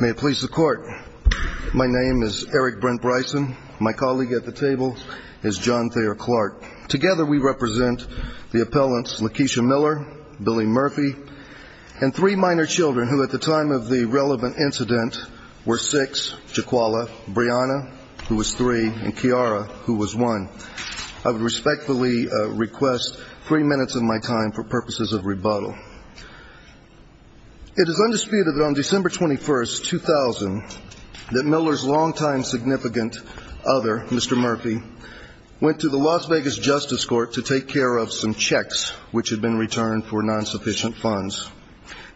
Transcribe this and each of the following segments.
May it please the Court, my name is Eric Brent Bryson, my colleague at the table is John Thayer Clark. Together we represent the appellants Lakeisha Miller, Billy Murphy, and three minor children who at the time of the relevant incident were six, Jaquala, Brianna, who was three, and Kiara, who was one. I would respectfully request three minutes of my time for purposes of rebuttal. It is undisputed that on December 21st, 2000, that Miller's long-time significant other, Mr. Murphy, went to the Las Vegas Justice Court to take care of some checks which had been returned for non-sufficient funds.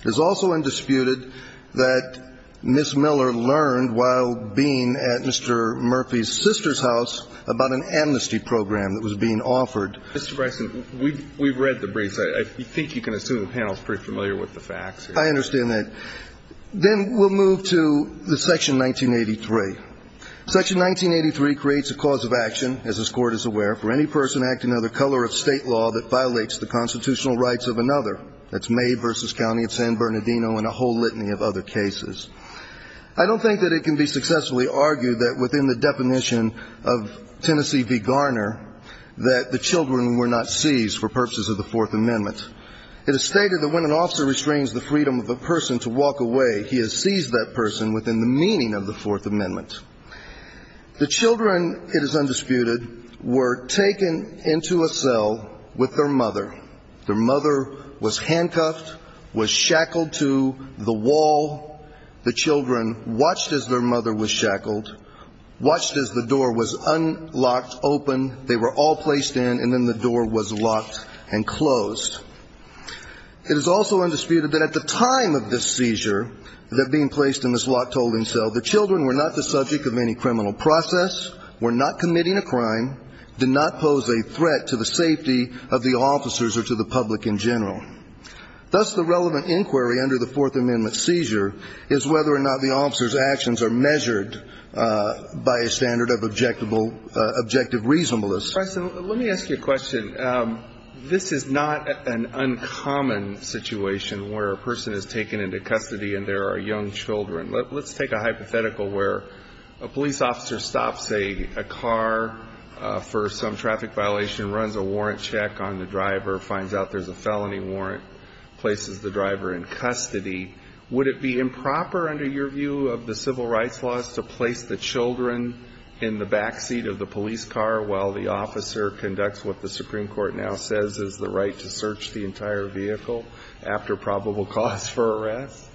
It is also undisputed that Ms. Miller learned while being at Mr. Murphy's sister's house about an amnesty program that was being offered. Mr. Bryson, we've read the briefs. I think you can assume the panel is pretty familiar with the facts. I understand that. Then we'll move to section 1983. Section 1983 creates a cause of action, as this Court is aware, for any person acting under the color of state law that violates the constitutional rights of another. That's May v. County of San Bernardino and a whole litany of other cases. I don't think that it can be successfully argued that within the definition of Tennessee v. Garner that the children were not seized for purposes of the Fourth Amendment. It is stated that when an officer restrains the freedom of a person to walk away, he has seized that person within the meaning of the Fourth Amendment. The children, it is undisputed, were taken into a cell with their mother. Their mother was handcuffed, was shackled to the wall. The children watched as their mother was shackled. Watched as the door was unlocked, opened. They were all placed in, and then the door was locked and closed. It is also undisputed that at the time of this seizure, that being placed in this locked holding cell, the children were not the subject of any criminal process, were not committing a crime, did not pose a threat to the safety of the officers or to the public in general. Thus, the relevant inquiry under the Fourth Amendment seizure is whether or not the officer's by a standard of objective reasonableness. Professor, let me ask you a question. This is not an uncommon situation where a person is taken into custody and there are young children. Let's take a hypothetical where a police officer stops a car for some traffic violation, runs a warrant check on the driver, finds out there's a felony warrant, places the driver in custody. Would it be improper under your view of the civil rights laws to place the children in the back seat of the police car while the officer conducts what the Supreme Court now says is the right to search the entire vehicle after probable cause for arrest?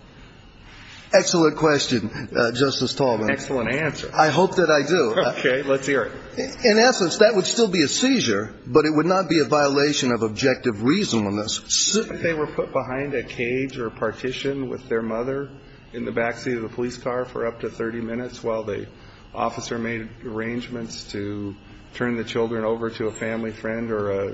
Excellent question, Justice Taubman. Excellent answer. I hope that I do. Okay. Let's hear it. In essence, that would still be a seizure, but it would not be a violation of objective reasonableness. They were put behind a cage or partition with their mother in the back seat of the police car for up to 30 minutes while the officer made arrangements to turn the children over to a family friend or a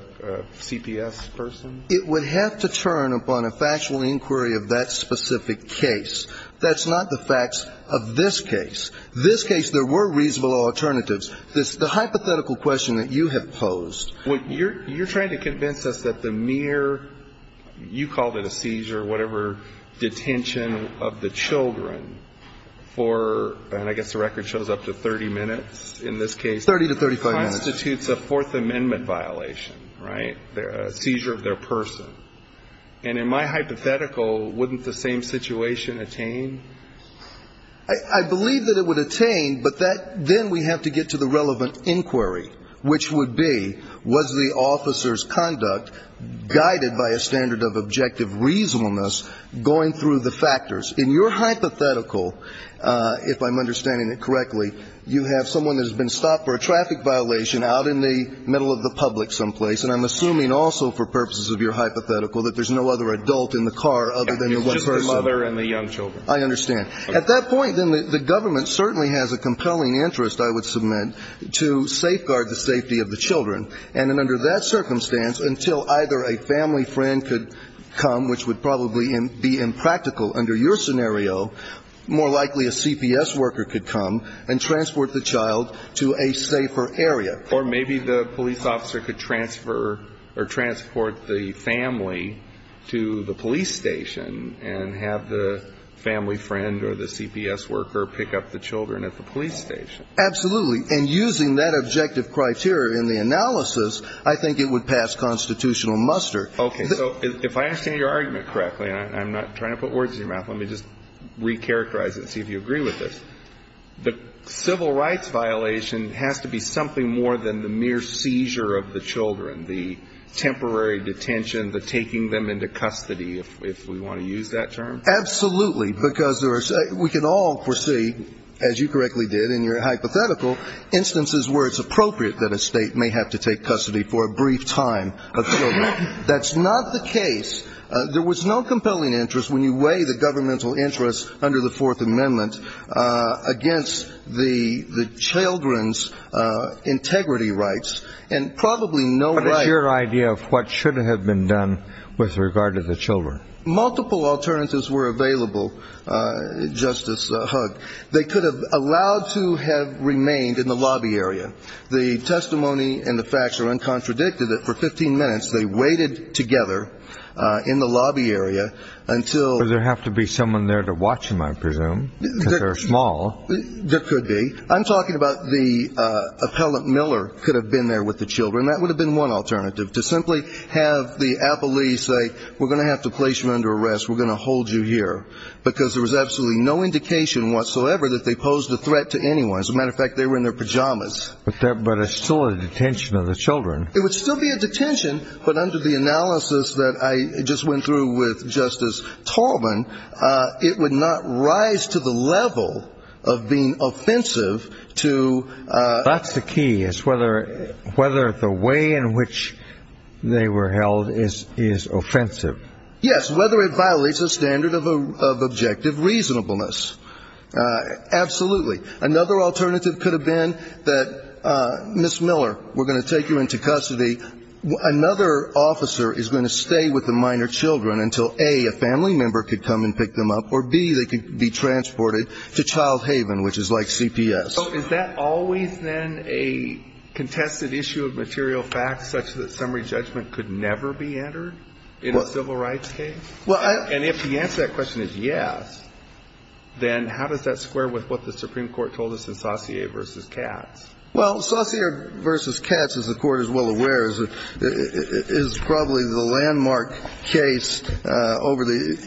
CPS person? It would have to turn upon a factual inquiry of that specific case. That's not the facts of this case. This case, there were reasonable alternatives. The hypothetical question that you have posed... You're trying to convince us that the mere, you called it a seizure, whatever, detention of the children for, and I guess the record shows up to 30 minutes in this case... 30 to 35 minutes. ...constitutes a Fourth Amendment violation, right? A seizure of their person. And in my hypothetical, wouldn't the same situation attain? I believe that it would attain, but then we have to get to the relevant inquiry, which would be, was the officer's conduct guided by a standard of objective reasonableness going through the factors? In your hypothetical, if I'm understanding it correctly, you have someone that has been stopped for a traffic violation out in the middle of the public someplace, and I'm assuming also for purposes of your hypothetical that there's no other adult in the car other than the one person. It's just the mother and the young children. I understand. At that point, then, the government certainly has a compelling interest, I would submit, to safeguard the safety of the children. And then under that circumstance, until either a family friend could come, which would probably be impractical under your scenario, more likely a CPS worker could come and transport the child to a safer area. Or maybe the police officer could transfer or transport the family to the police station and have the family friend or the CPS worker pick up the children at the police station. Absolutely. And using that objective criteria in the analysis, I think it would pass constitutional muster. Okay. So if I understand your argument correctly, and I'm not trying to put words in your mouth, let me just recharacterize it and see if you agree with this. The civil rights violation has to be something more than the mere seizure of the children, the temporary detention, the taking them into custody, if we want to use that term? Absolutely. Because we can all foresee, as you correctly did in your hypothetical, instances where it's appropriate that a state may have to take custody for a brief time of children. That's not the case. There was no compelling interest when you weigh the governmental interest under the Fourth Amendment against the children's integrity rights. And probably no right... But it's your idea of what should have been done with regard to the children. Multiple alternatives were available, Justice Hugg. They could have allowed to have remained in the lobby area. The testimony and the facts are uncontradicted that for 15 minutes they waited together in the lobby area until... But there have to be someone there to watch them, I presume, because they're small. There could be. I'm talking about the appellant Miller could have been there with the children. That would have been one alternative, to simply have the appellee say, we're going to have to place you under arrest. We're going to hold you here. Because there was absolutely no indication whatsoever that they posed a threat to anyone. As a matter of fact, they were in their pajamas. But it's still a detention of the children. It would still be a detention, but under the analysis that I just went through with Justice Tallman, it would not rise to the level of being offensive to... That's the key, is whether the way in which they were held is offensive. Yes, whether it violates the standard of objective reasonableness. Absolutely. Another alternative could have been that, Ms. Miller, we're going to take you into custody. Another officer is going to stay with the minor children until, A, a family member could come and pick them up or, B, they could be transported to child haven, which is like CPS. Is that always then a contested issue of material facts, such that summary judgment could never be entered in a civil rights case? And if the answer to that question is yes, then how does that square with what the Supreme Court told us in Saussure v. Katz? Well, Saussure v. Katz, as the Court is well aware, is probably the landmark case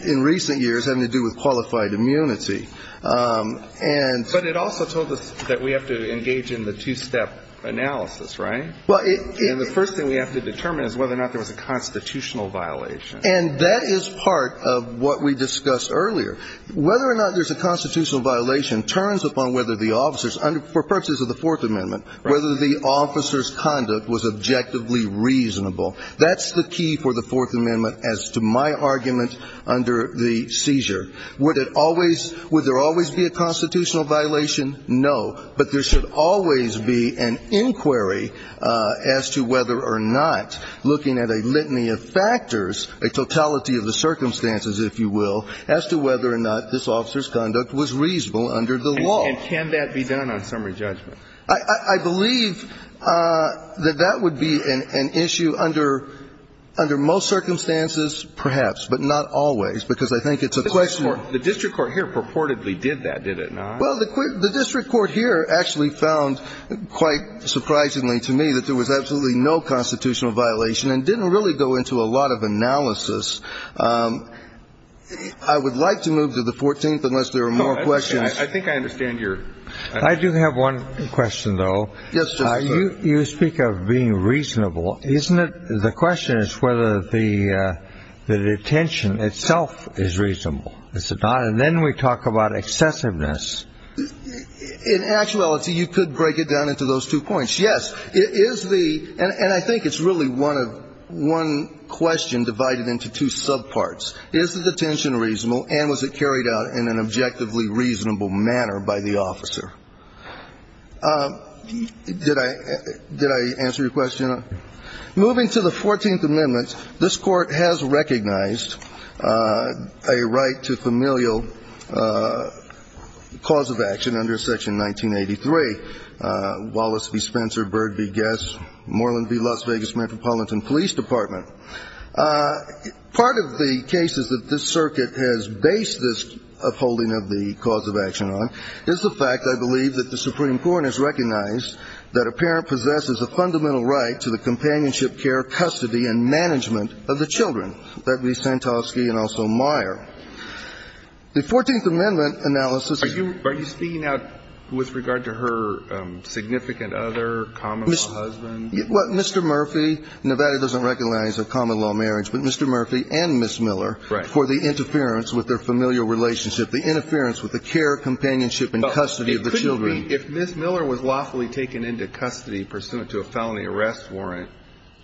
in recent years having to do with qualified immunity. But it also told us that we have to engage in the two-step analysis, right? And the first thing we have to determine is whether or not there was a constitutional violation. And that is part of what we discussed earlier. Whether or not there's a constitutional violation turns upon whether the officers, for purposes of the Fourth Amendment, whether the officers' conduct was objectively reasonable. That's the key for the Fourth Amendment as to my Would there always be a constitutional violation? No. But there should always be an inquiry as to whether or not, looking at a litany of factors, a totality of the circumstances, if you will, as to whether or not this officer's conduct was reasonable under the law. And can that be done on summary judgment? I believe that that would be an issue under most circumstances, perhaps, but not always, because I think it's a question of the court. The district court here purportedly did that, did it not? Well, the district court here actually found, quite surprisingly to me, that there was absolutely no constitutional violation and didn't really go into a lot of analysis. I would like to move to the 14th, unless there are more questions. I think I understand your I do have one question, though. Yes, sir. You speak of being reasonable. Isn't it the question is whether the detention itself is reasonable? Is it not? And then we talk about excessiveness. In actuality, you could break it down into those two points. Yes, it is the – and I think it's really one question divided into two subparts. Is the detention reasonable and was it carried out in an objectively reasonable manner by the officer? Did I answer your question? Moving to the 14th Amendment, this Court has recognized a right to familial cause of action under Section 1983, Wallace v. Spencer, Byrd v. Guest, Moreland v. Las Vegas Metropolitan Police Department. Part of the cases that this Circuit has based this upholding of the cause of action on is the fact, I believe, that the Supreme Court has recognized that a parent possesses a fundamental right to the companionship, care, custody, and management of the children, that be Santosky and also Meyer. The 14th Amendment analysis – Are you speaking out with regard to her significant other, common-law husband? Mr. Murphy, Nevada doesn't recognize a common-law marriage, but Mr. Murphy and Ms. Miller for the interference with their familial relationship, the interference with the care, companionship, and custody of the children. If Ms. Miller was lawfully taken into custody pursuant to a felony arrest warrant,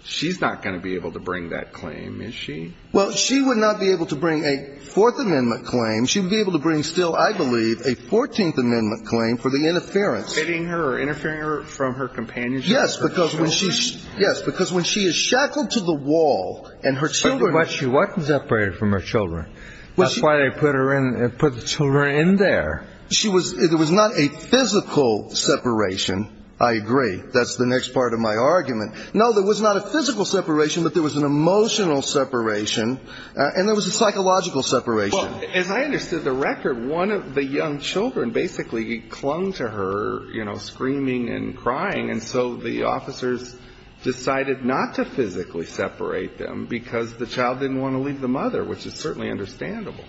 she's not going to be able to bring that claim, is she? Well, she would not be able to bring a Fourth Amendment claim. She would be able to bring still, I believe, a 14th Amendment claim for the interference. Interfering her from her companionship? Yes, because when she is shackled to the wall and her children – But she wasn't separated from her children. That's why they put her in – put the children in there. She was – it was not a physical separation. I agree. That's the next part of my argument. No, there was not a physical separation, but there was an emotional separation, and there was a psychological separation. As I understood the record, one of the young children basically clung to her, you know, screaming and crying, and so the officers decided not to physically separate them because the child didn't want to leave the mother, which is certainly understandable.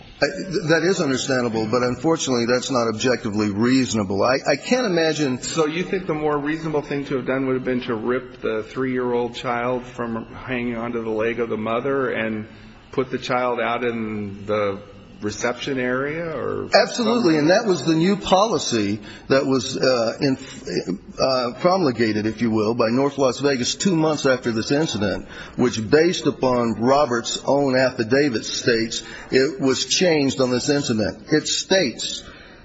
That is understandable, but unfortunately, that's not objectively reasonable. I can't imagine – So you think the more reasonable thing to have done would have been to rip the three-year-old child from hanging onto the leg of the mother and put the child out in the reception area or – Absolutely, and that was the new policy that was promulgated, if you will, by North Las Vegas two months after this incident, which based upon Roberts' own affidavit states it was changed on this incident. It states,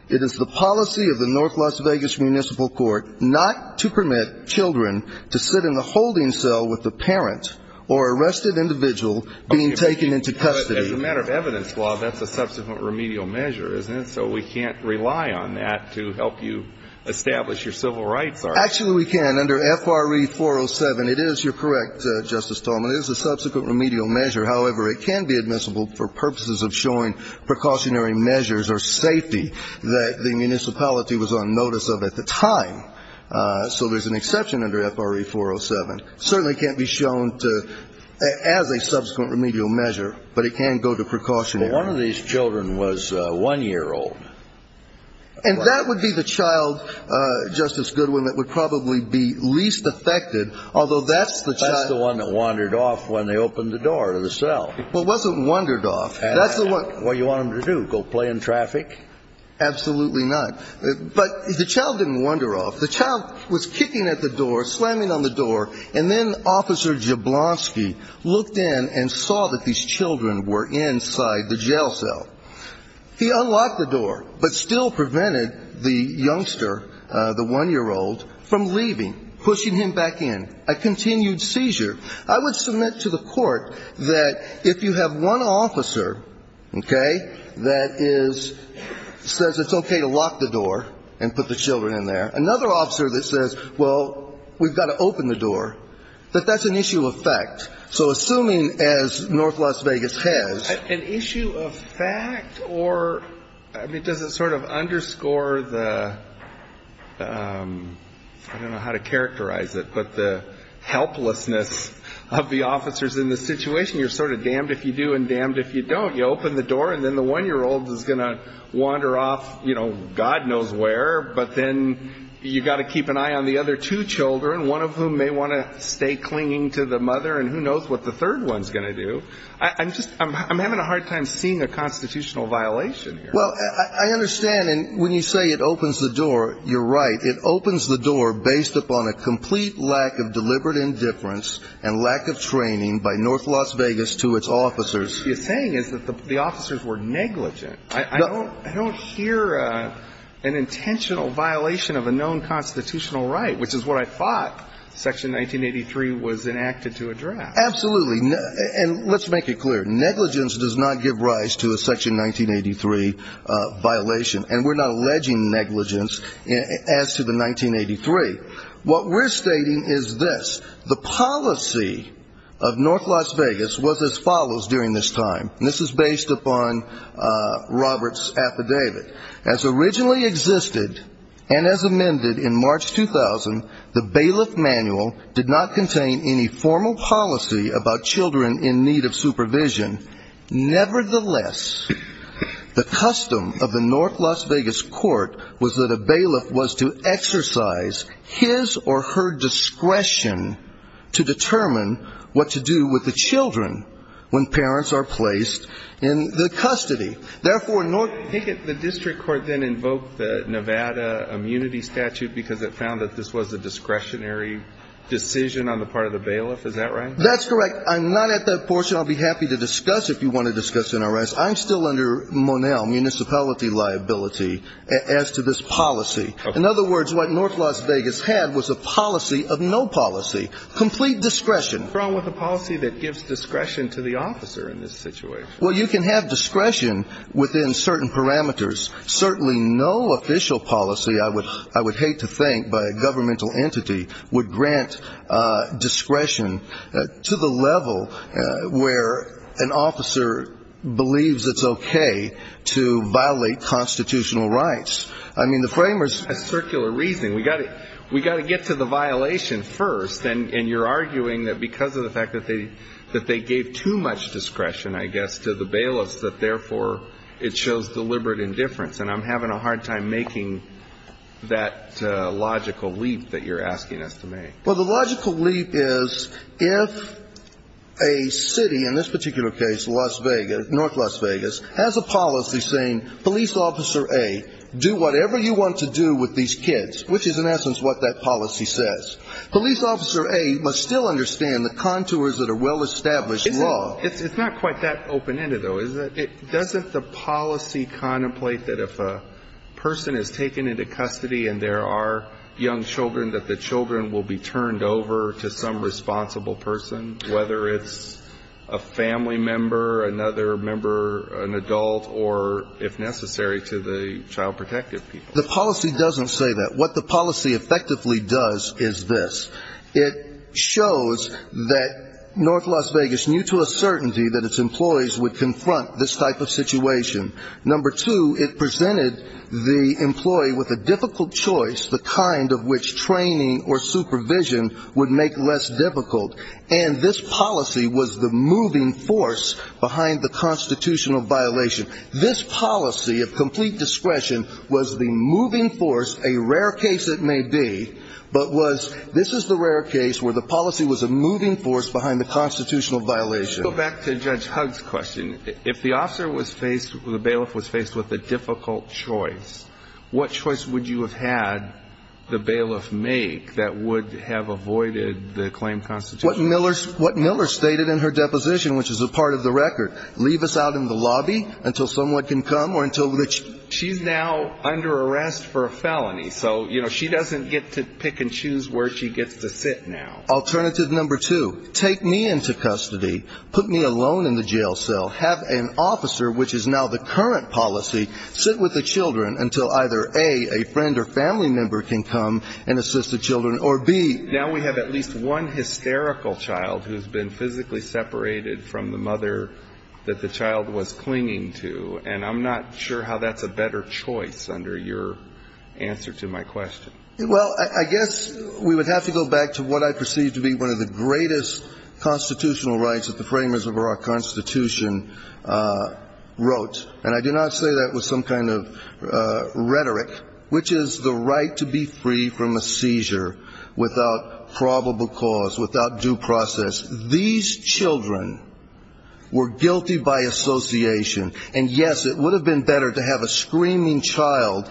it is the policy of the North Las Vegas Municipal Court not to permit children to sit in the holding cell with the parent or arrested individual being taken into custody. As a matter of evidence, that's a subsequent remedial measure, isn't it? So we can't rely on that to help you establish your civil rights, are we? Actually, we can. Under F.R.E. 407, it is – you're correct, Justice Tolman – it is a subsequent remedial measure. However, it can be admissible for purposes of showing precautionary measures or safety that the municipality was on notice of at the time. So there's an exception under F.R.E. 407. Certainly can't be shown as a subsequent remedial measure, but it can go to precautionary. But one of these children was one-year-old. And that would be the child, Justice Goodwin, that would probably be least affected, although that's the child – That's the one that wandered off when they opened the door to the cell. Well, it wasn't wandered off. That's the one – What do you want them to do, go play in traffic? Absolutely not. But the child didn't wander off. The child was kicking at the door, slamming on the door, and then Officer Jablonski looked in and saw that these children were inside the jail cell. He unlocked the door, but still prevented the youngster, the one-year-old, from leaving, pushing him back in. A continued seizure. I would submit to the Court that if you have one officer, okay, that is – says it's okay to lock the door and put the children in there, another officer that says, well, we've got to open the door, that that's an issue of fact. So assuming, as North Las Vegas has – An issue of fact or – I mean, does it sort of underscore the – I don't know how to characterize it, but the helplessness of the officers in this situation? You're sort of damned if you do and damned if you don't. You open the door and then the one-year-old is going to wander off, you know, God knows where, but then you've got to keep an eye on the other two children, one of whom may want to stay clinging to the mother, and who knows what the third one's going to do. I'm just – I'm having a hard time seeing a constitutional violation here. Well, I understand, and when you say it opens the door, you're right. It opens the door based upon a complete lack of deliberate indifference and lack of training by North Las Vegas to its officers. What you're saying is that the officers were negligent. I don't hear an intentional violation of a known constitutional right, which is what I thought Section 1983 was enacted to address. Absolutely, and let's make it clear. Negligence does not give rise to a Section 1983 violation, and we're not alleging negligence as to the 1983. What we're stating is this. The policy of North Las Vegas was as follows during this time, and this is based upon Robert's affidavit. As originally existed and as amended in March 2000, the bailiff manual did not contain any formal policy about children in need of supervision. Nevertheless, the custom of the North Las Vegas court was that a bailiff was to exercise his or her discretion to determine what to do with the children when parents are placed in the custody. Therefore, North – I think the district court then invoked the Nevada immunity statute because it found that this was a discretionary decision on the part of the bailiff, is that right? That's correct. I'm not at that portion. I'll be happy to discuss if you want to discuss in our rights. I'm still under Monell municipality liability as to this policy. In other words, what North Las Vegas had was a policy of no policy. Complete discretion. What's wrong with a policy that gives discretion to the officer in this situation? Well, you can have discretion within certain parameters. Certainly no official policy. I would hate to think by a governmental entity would grant discretion to the level where an officer believes it's okay to violate constitutional rights. I mean, the framers – Circular reasoning. We got to get to the violation first. And you're arguing that because of the fact that they gave too much discretion, I guess, to the bailiffs, that therefore it shows deliberate indifference. And I'm having a hard time making that logical leap that you're asking us to make. Well, the logical leap is if a city, in this particular case, Las Vegas, North Las Vegas, has a policy saying, Police Officer A, do whatever you want to do with these kids, which is in essence what that policy says. Police Officer A must still understand the contours of the well-established law. It's not quite that open-ended, though, is it? Doesn't the policy contemplate that if a person is taken into custody and there are young children, that the children will be turned over to some responsible person, whether it's a family member, another member, an adult, or, if necessary, to the child protective people? The policy doesn't say that. What the policy effectively does is this. It shows that North Las Vegas knew to a certainty that its employees would confront this type of situation. Number two, it presented the employee with a difficult choice, the kind of which training or supervision would make less difficult. And this policy was the moving force behind the constitutional violation. This policy of complete discretion was the moving force, a rare case it may be, but was, this is the rare case where the policy was a moving force behind the constitutional violation. Let's go back to Judge Hugg's question. If the officer was faced, the bailiff was faced with a difficult choice, what choice would you have had the bailiff make that would have avoided the claim constitution? What Miller stated in her deposition, which is a part of the record, leave us out in the lobby until someone can come or until... She's now under arrest for a felony, so, you know, she doesn't get to pick and choose where she gets to sit now. Alternative number two, take me into custody, put me alone in the jail cell, have an officer, which is now the current policy, sit with the children until either A, a friend or family member can come and assist the children, or B... Now we have at least one hysterical child who's been physically separated from the mother that the child was clinging to, and I'm not sure how that's a better choice under your answer to my question. Well, I guess we would have to go back to what I perceive to be one of the greatest constitutional rights that the framers of our Constitution wrote, and I do not say that with some kind of rhetoric, which is the right to be free from a seizure without probable cause, without due process. These children were guilty by association, and yes, it would have been better to have a screaming child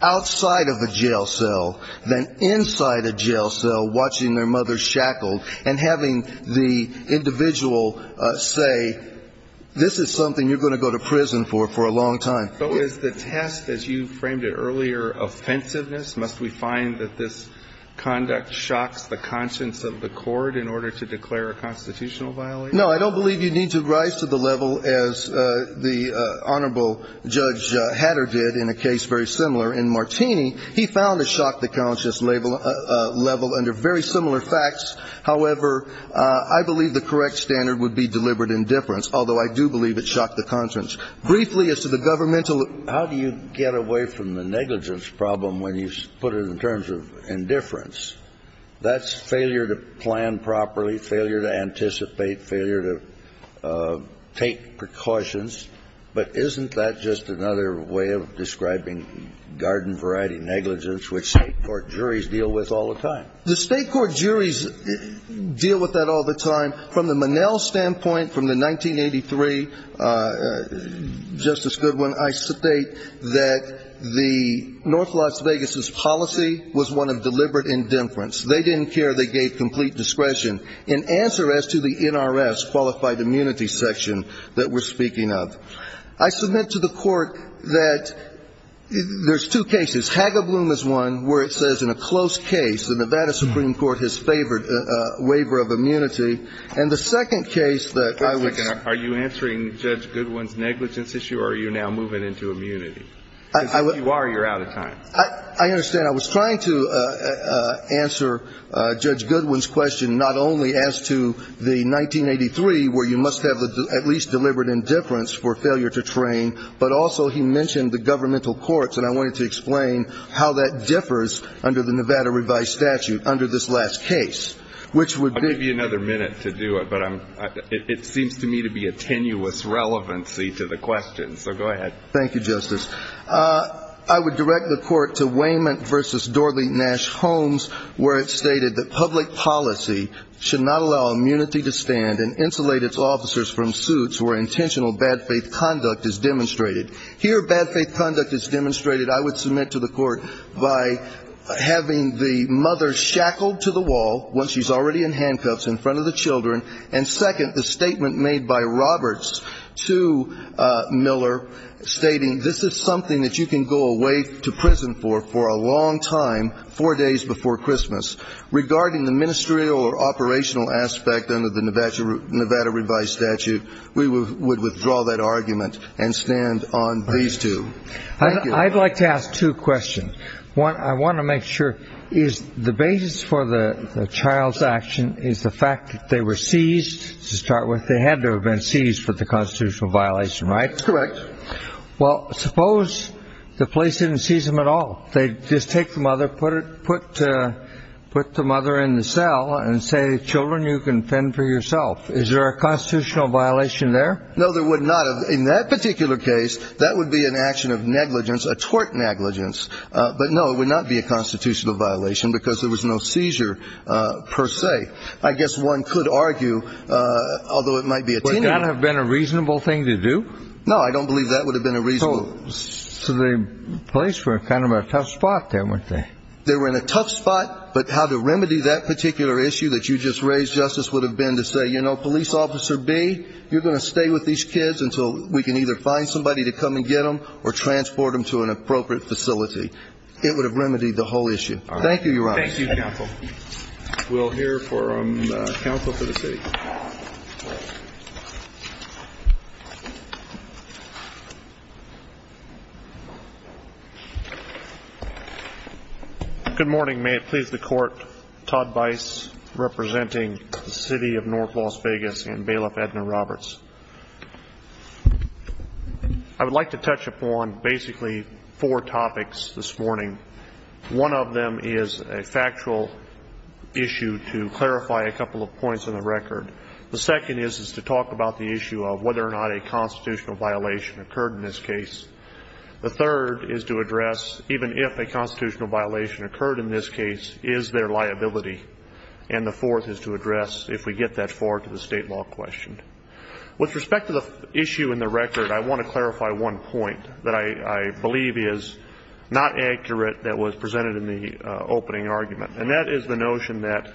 outside of a jail cell than inside a jail cell watching their mother shackled and having the individual say, this is something you're going to go to prison for for a long time. So is the test, as you framed it earlier, offensiveness? Must we find that this conduct shocks the conscience of the court in order to declare a constitutional violation? No, I don't believe you need to rise to the level as the Honorable Judge Hatter did in a case very similar in Martini. He found it shocked the conscience level under very similar facts. However, I believe the correct standard would be deliberate indifference, although I do believe it shocked the conscience. Briefly, as to the governmental... How do you get away from the negligence problem when you put it in terms of indifference? That's failure to plan properly, failure to anticipate, failure to take precautions. But isn't that just another way of describing garden variety negligence, which state court juries deal with all the time? The state court juries deal with that all the time. From the Monell standpoint, from the 1983, Justice Goodwin, I state that the North Las Vegas's policy was one of deliberate indifference. They didn't care. They gave complete discretion in answer as to the NRS qualified immunity section that we're speaking of. I submit to the court that there's two cases. Hagebloom is one where it says in a close case, the Nevada Supreme Court has favored a waiver of immunity. And the second case that I would... Judge Goodwin's negligence issue, or are you now moving into immunity? If you are, you're out of time. I understand. I was trying to answer Judge Goodwin's question not only as to the 1983, where you must have at least deliberate indifference for failure to train, but also he mentioned the governmental courts. And I wanted to explain how that differs under the Nevada revised statute under this last case, which would be... I'll give you another minute to do it. But it seems to me to be a tenuous relevancy to the question. So go ahead. Thank you, Justice. I would direct the court to Wayment versus Dorley Nash Holmes, where it stated that public policy should not allow immunity to stand and insulate its officers from suits where intentional bad faith conduct is demonstrated. Here, bad faith conduct is demonstrated, I would submit to the court, by having the mother shackled to the wall once she's already in handcuffs in front of the children. And second, the statement made by Roberts to Miller stating, this is something that you can go away to prison for for a long time, four days before Christmas. Regarding the ministerial or operational aspect under the Nevada revised statute, we would withdraw that argument and stand on these two. I'd like to ask two questions. One, I want to make sure, is the basis for the child's action is the fact that they were seized, to start with. They had to have been seized for the constitutional violation, right? Correct. Well, suppose the police didn't seize them at all. They just take the mother, put the mother in the cell, and say, children, you can fend for yourself. Is there a constitutional violation there? No, there would not have. In that particular case, that would be an action of negligence, a tort negligence. But no, it would not be a constitutional violation because there was no seizure, per se. I guess one could argue, although it might be a tenuant. Would that have been a reasonable thing to do? No, I don't believe that would have been a reasonable. So the police were kind of a tough spot there, weren't they? They were in a tough spot. But how to remedy that particular issue that you just raised, Justice, would have been to say, you know, police officer B, you're going to stay with these kids until we can either find somebody to come and get them or transport them to an appropriate facility. It would have remedied the whole issue. Thank you, Your Honor. Thank you, counsel. We'll hear from counsel for the state. Good morning. May it please the court. Todd Bice, representing the city of North Las Vegas and Bailiff Edna Roberts. I would like to touch upon, basically, four topics this morning. One of them is a factual issue to clarify a couple of points in the record. The second is to talk about the issue of whether or not a constitutional violation occurred in this case. The third is to address, even if a constitutional violation occurred in this case, is there liability, and the fourth is to address, if we get that far to the state law question. With respect to the issue in the record, I want to clarify one point that I was presented in the opening argument. And that is the notion that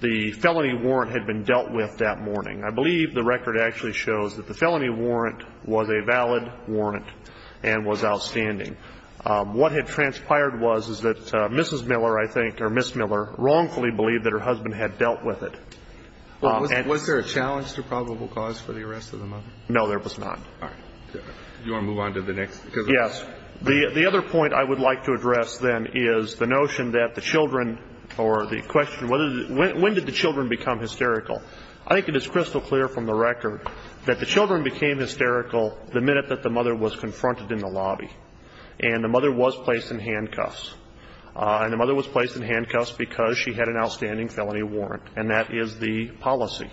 the felony warrant had been dealt with that morning. I believe the record actually shows that the felony warrant was a valid warrant and was outstanding. What had transpired was, is that Mrs. Miller, I think, or Ms. Miller, wrongfully believed that her husband had dealt with it. Was there a challenge to probable cause for the arrest of the mother? No, there was not. All right. Do you want to move on to the next? Yes. The other point I would like to address, then, is the notion that the children or the question, when did the children become hysterical? I think it is crystal clear from the record that the children became hysterical the minute that the mother was confronted in the lobby. And the mother was placed in handcuffs. And the mother was placed in handcuffs because she had an outstanding felony warrant, and that is the policy.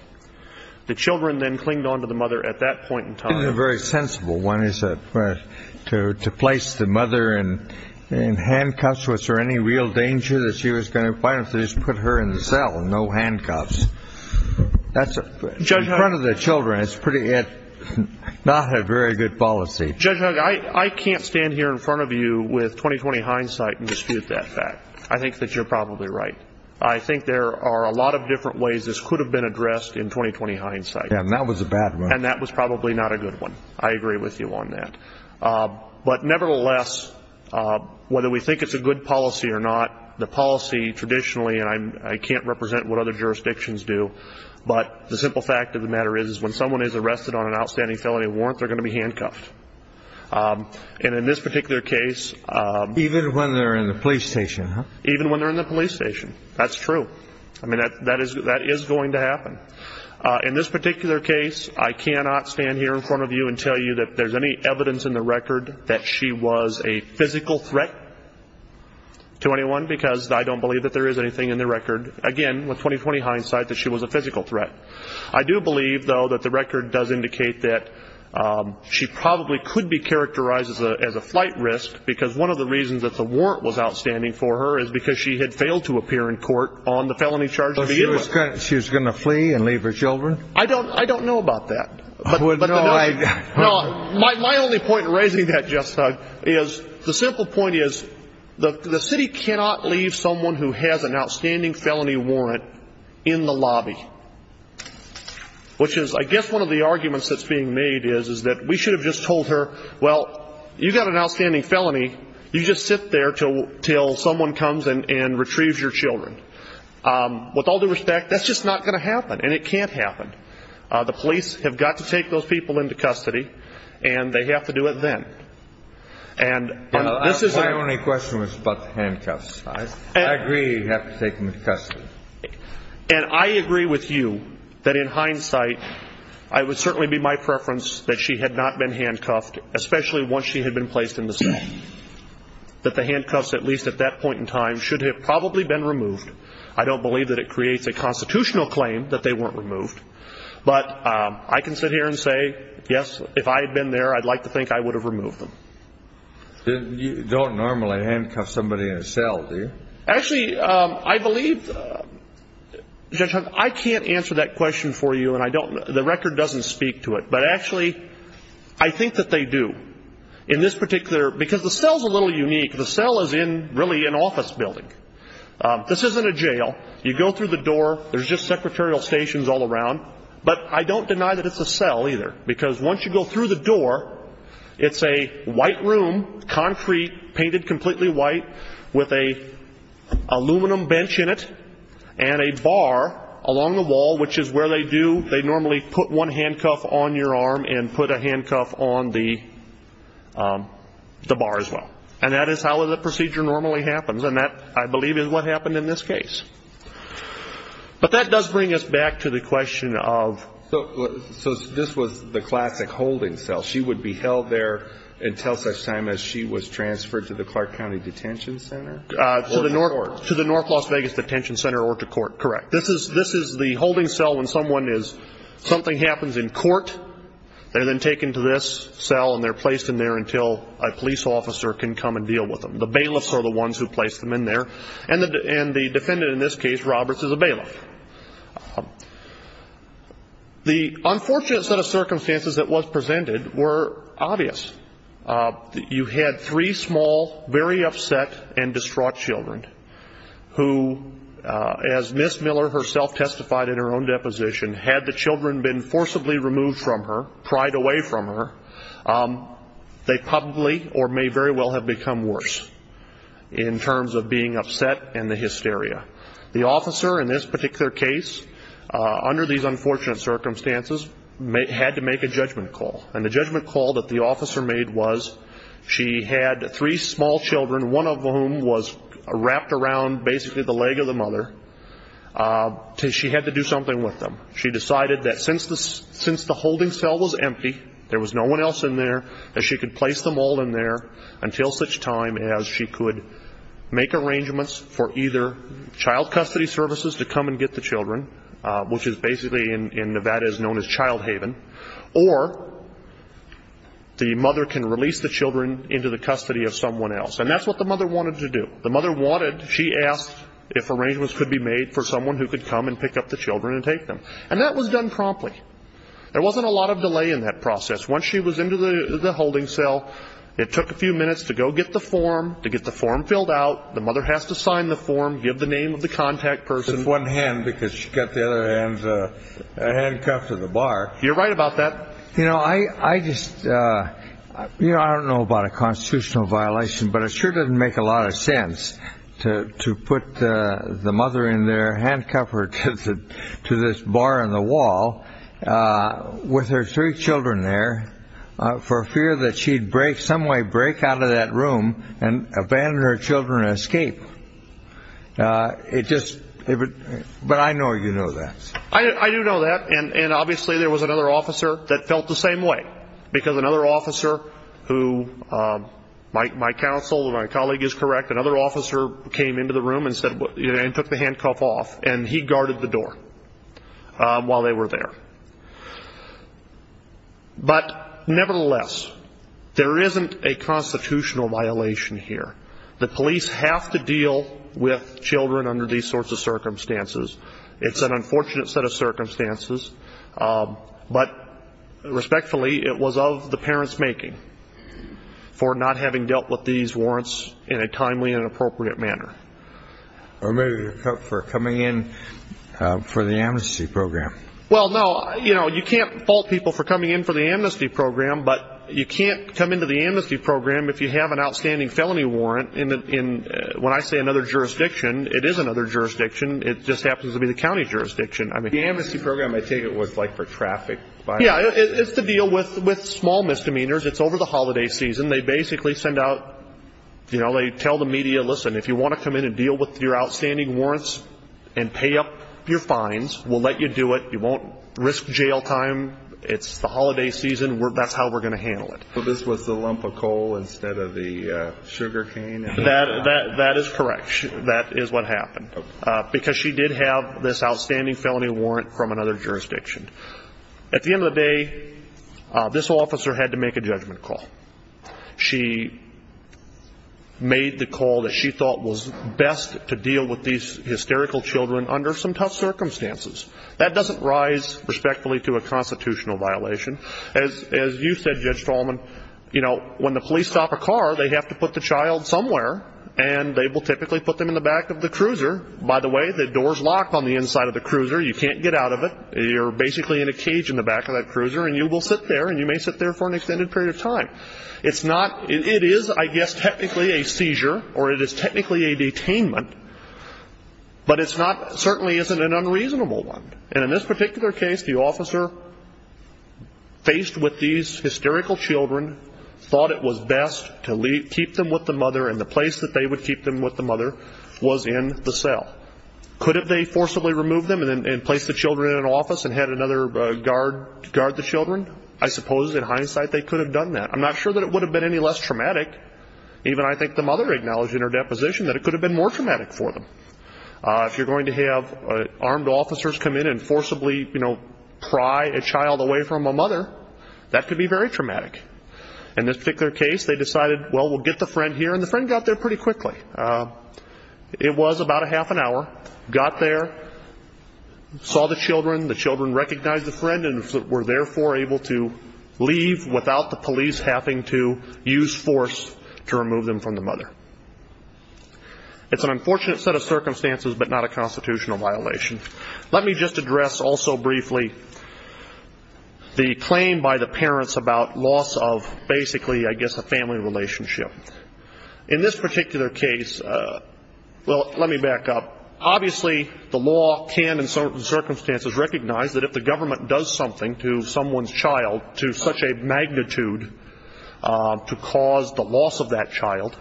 The children then clinged on to the mother at that point in time. I think a very sensible one is to place the mother in handcuffs. Was there any real danger that she was going to find if they just put her in the cell and no handcuffs? That's in front of the children. It's not a very good policy. Judge Hugg, I can't stand here in front of you with 20-20 hindsight and dispute that fact. I think that you're probably right. I think there are a lot of different ways this could have been addressed in 20-20 hindsight. And that was a bad one. I agree with you on that. But nevertheless, whether we think it's a good policy or not, the policy traditionally, and I can't represent what other jurisdictions do, but the simple fact of the matter is when someone is arrested on an outstanding felony warrant, they're going to be handcuffed. And in this particular case, Even when they're in the police station, huh? Even when they're in the police station. That's true. I mean, that is going to happen. In this particular case, I cannot stand here in front of you and tell you that there's any evidence in the record that she was a physical threat to anyone because I don't believe that there is anything in the record. Again, with 20-20 hindsight, that she was a physical threat. I do believe, though, that the record does indicate that she probably could be characterized as a flight risk because one of the reasons that the warrant was outstanding for her is because she had failed to appear in court on the felony charge to begin with. She was going to flee and leave her children? I don't know about that. But my only point in raising that, Jeff Thug, is the simple point is the city cannot leave someone who has an outstanding felony warrant in the lobby, which is, I guess, one of the arguments that's being made is that we should have just told her, well, you've got an outstanding felony. You just sit there until someone comes and retrieves your children. With all due respect, that's just not going to happen, and it can't happen. The police have got to take those people into custody, and they have to do it then. My only question was about the handcuffs. I agree you have to take them into custody. And I agree with you that in hindsight, it would certainly be my preference that she had not been handcuffed, especially once she had been placed in the cell, that the handcuffs, at least at that point in time, should have probably been removed. I don't believe that it creates a constitutional claim that they weren't removed, but I can sit here and say, yes, if I had been there, I'd like to think I would have removed them. You don't normally handcuff somebody in a cell, do you? Actually, I believe, Jeff Thug, I can't answer that question for you, and the record doesn't speak to it. But actually, I think that they do. In this particular, because the cell's a little unique. The cell is in, really, an office building. This isn't a jail. You go through the door. There's just secretarial stations all around. But I don't deny that it's a cell either, because once you go through the door, it's a white room, concrete, painted completely white, with an aluminum bench in it and a bar along the wall, which is where they do, they normally put one handcuff on your arm and put a handcuff on the bar as well. And that is how the procedure normally happens. And that, I believe, is what happened in this case. But that does bring us back to the question of. So this was the classic holding cell. She would be held there until such time as she was transferred to the Clark County Detention Center or to court? To the North Las Vegas Detention Center or to court, correct. This is the holding cell when someone is, something happens in court. They're then taken to this cell, and they're placed in there until a police officer can come and deal with them. The bailiffs are the ones who place them in there, and the defendant in this case, Roberts, is a bailiff. The unfortunate set of circumstances that was presented were obvious. You had three small, very upset and distraught children who, as Miss Miller herself testified in her own deposition, had the children been forcibly removed from her, pried away from her, they probably or may very well have become worse in terms of being upset and the hysteria. The officer in this particular case, under these unfortunate circumstances, had to make a judgment call. And the judgment call that the officer made was she had three small children, one of whom was wrapped around basically the leg of the mother. She had to do something with them. She decided that since the holding cell was empty, there was no one else in there, that she could place them all in there until such time as she could make arrangements for either child custody services to come and get the children, which is basically in Nevada is known as child haven, or the mother can release the children into the custody of someone else. And that's what the mother wanted to do. The mother wanted, she asked if arrangements could be made for someone who could come and pick up the children and take them. And that was done promptly. There wasn't a lot of delay in that process. Once she was into the holding cell, it took a few minutes to go get the form, to get the form filled out. The mother has to sign the form, give the name of the contact person. One hand because she got the other hand handcuffed to the bar. You're right about that. You know, I just, you know, I don't know about a constitutional violation, but it sure doesn't make a lot of sense to put the mother in there, handcuffed to this bar on the wall with her three children there for fear that she'd break, someway break out of that room and abandon her children and escape, it just, but I know you know that. I do know that. And obviously there was another officer that felt the same way because another counsel, my colleague is correct, another officer came into the room and said, and took the handcuff off and he guarded the door while they were there. But nevertheless, there isn't a constitutional violation here. The police have to deal with children under these sorts of circumstances. It's an unfortunate set of circumstances. But respectfully, it was of the parent's making for not having dealt with these warrants in a timely and appropriate manner. Or maybe for coming in for the amnesty program. Well, no, you know, you can't fault people for coming in for the amnesty program, but you can't come into the amnesty program if you have an outstanding felony warrant in, when I say another jurisdiction, it is another jurisdiction. It just happens to be the county jurisdiction. The amnesty program, I take it, was like for traffic. Yeah, it's to deal with small misdemeanors. It's over the holiday season. They basically send out, you know, they tell the media, listen, if you want to come in and deal with your outstanding warrants and pay up your fines, we'll let you do it. You won't risk jail time. It's the holiday season. That's how we're going to handle it. But this was the lump of coal instead of the sugar cane. That is correct. That is what happened. Because she did have this outstanding felony warrant from another jurisdiction. At the end of the day, this officer had to make a judgment call. She made the call that she thought was best to deal with these hysterical children under some tough circumstances. That doesn't rise respectfully to a constitutional violation. As you said, Judge Tallman, you know, when the police stop a car, they have to put the child somewhere, and they will typically put them in the back of the cruiser. By the way, the door's locked on the inside of the cruiser. You can't get out of it. You're basically in a cage in the back of that cruiser, and you will sit there, and you may sit there for an extended period of time. It's not, it is, I guess, technically a seizure, or it is technically a detainment, but it's not, certainly isn't an unreasonable one. And in this particular case, the officer, faced with these hysterical children, thought it was best to keep them with the mother, and the place that they would keep them with the mother was in the cell. Could have they forcibly removed them and placed the children in an office and had another guard guard the children? I suppose, in hindsight, they could have done that. I'm not sure that it would have been any less traumatic, even I think the mother acknowledged in her deposition, that it could have been more traumatic for them. If you're going to have armed officers come in and forcibly, you know, pry a child away from a mother, that could be very traumatic. In this particular case, they decided, well, we'll get the friend here, and the friend got there pretty quickly. It was about a half an hour, got there, saw the children, the children recognized the friend, and were therefore able to leave without the police having to use force to remove them from the mother. It's an unfortunate set of circumstances, but not a constitutional violation. Let me just address also briefly the claim by the parents about loss of, basically, I guess, a family relationship. In this particular case, well, let me back up. Obviously, the law can, in certain circumstances, recognize that if the government does something to someone's child to such a magnitude to cause the loss of that child,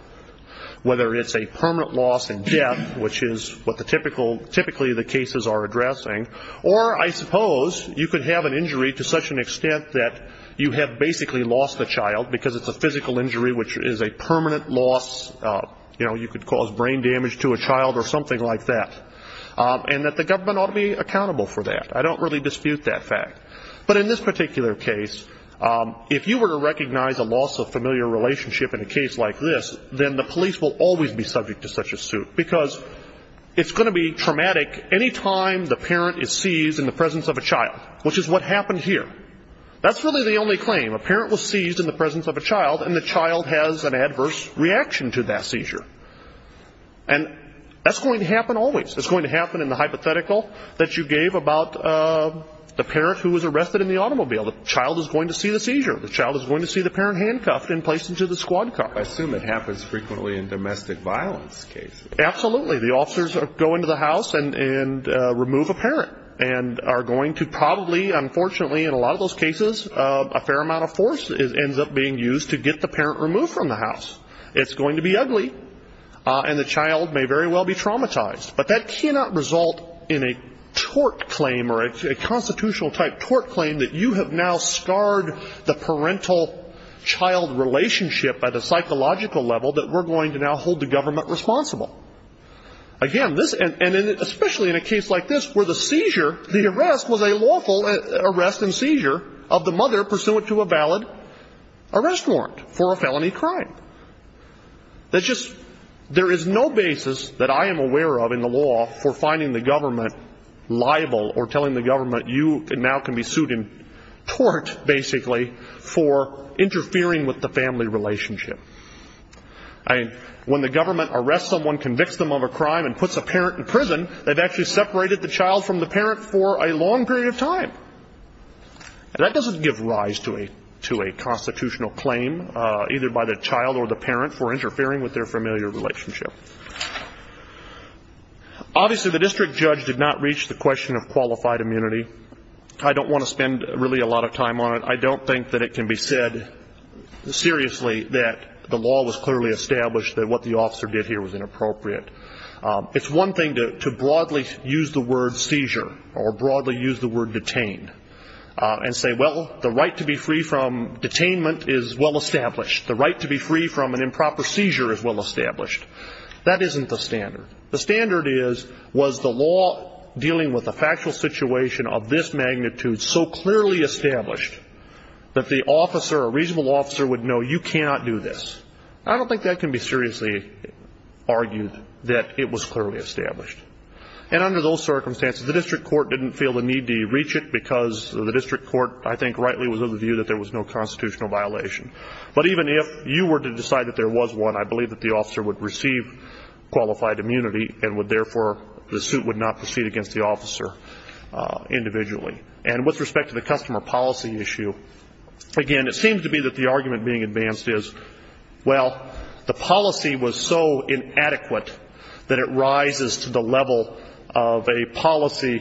whether it's a permanent loss in death, which is what typically the cases are addressing, or, I suppose, you could have an injury to such an extent that you have basically lost the child, because it's a physical injury, which is a permanent loss. You know, you could cause brain damage to a child or something like that, and that the government ought to be accountable for that. I don't really dispute that fact. But in this particular case, if you were to recognize a loss of familiar relationship in a case like this, then the police will always be subject to such a suit, because it's going to be traumatic any time the parent is seized in the presence of a child, which is what happened here. That's really the only claim. A parent was seized in the presence of a child, and the child has an adverse reaction to that seizure. And that's going to happen always. It's going to happen in the hypothetical that you gave about the parent who was arrested in the automobile. The child is going to see the seizure. The child is going to see the parent handcuffed and placed into the squad car. I assume it happens frequently in domestic violence cases. Absolutely. The officers go into the house and remove a parent and are going to probably, unfortunately, in a lot of those cases, a fair amount of force ends up being used to get the parent removed from the house. It's going to be ugly, and the child may very well be traumatized. But that cannot result in a tort claim or a constitutional-type tort claim that you have now scarred the parental-child relationship at a psychological level that we're going to now hold the government responsible. Again, this, and especially in a case like this, where the seizure, the arrest, was a lawful arrest and seizure of the mother pursuant to a valid arrest warrant for a felony crime. There is no basis that I am aware of in the law for finding the government liable or telling the government you now can be sued and tort, basically, for interfering with the family relationship. When the government arrests someone, convicts them of a crime, and puts a parent in prison, they've actually separated the child from the parent for a long period of time. That doesn't give rise to a constitutional claim, either by the child or the parent, for interfering with their familiar relationship. Obviously, the district judge did not reach the question of qualified immunity. I don't want to spend, really, a lot of time on it. I don't think that it can be said seriously that the law was clearly established that what the officer did here was inappropriate. It's one thing to broadly use the word seizure or broadly use the word detained and say, well, the right to be free from detainment is well-established. The right to be free from an improper seizure is well-established. That isn't the standard. The standard is, was the law dealing with a factual situation of this magnitude so clearly established that the officer, a reasonable officer, would know you cannot do this? I don't think that can be seriously argued that it was clearly established. And under those circumstances, the district court didn't feel the need to reach it because the district court, I think, rightly was of the view that there was no constitutional violation. But even if you were to decide that there was one, I believe that the officer would receive qualified immunity and would, therefore, the suit would not proceed against the officer individually. And with respect to the customer policy issue, again, it seems to be that the argument being advanced is, well, the policy was so inadequate that it rises to the level of a policy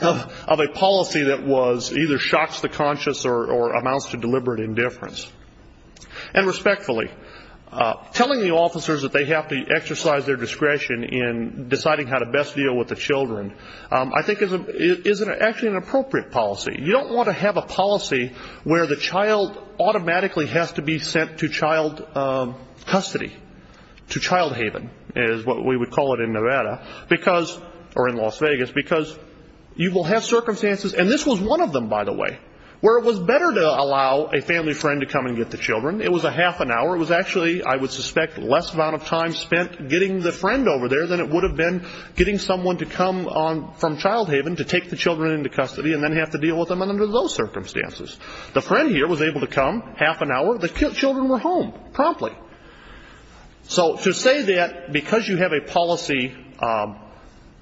that was either shocks the conscious or amounts to deliberate indifference. And respectfully, telling the officers that they have to exercise their discretion in deciding how to best deal with the children, I think is actually an appropriate policy. You don't want to have a policy where the child automatically has to be sent to child custody, to child haven, is what we would call it in Nevada, or in Las Vegas, because you will have circumstances, and this was one of them, by the way, where it was better to allow a family friend to come and get the children. It was a half an hour. It was actually, I would suspect, less amount of time spent getting the friend over there than it would have been getting someone to come from child haven to take the children into custody and then have to deal with them under those circumstances. The friend here was able to come, half an hour, the children were home promptly. So to say that because you have a policy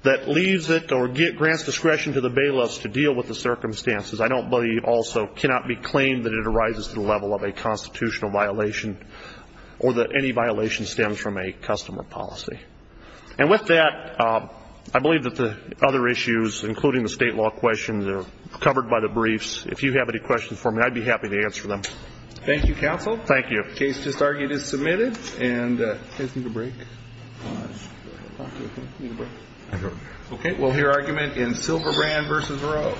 that leaves it or grants discretion to the bailiffs to deal with the circumstances, I don't believe also cannot be claimed that it arises to the level of a constitutional violation or that any violation stems from a customer policy. And with that, I believe that the other issues, including the state law questions, are covered by the briefs. If you have any questions for me, I'd be happy to answer them. Thank you, counsel. Thank you. Case just argued is submitted. And do you guys need a break? No, that's good. OK, OK. You need a break? I'm good. OK. We'll hear argument in Silverbrand versus Rowe.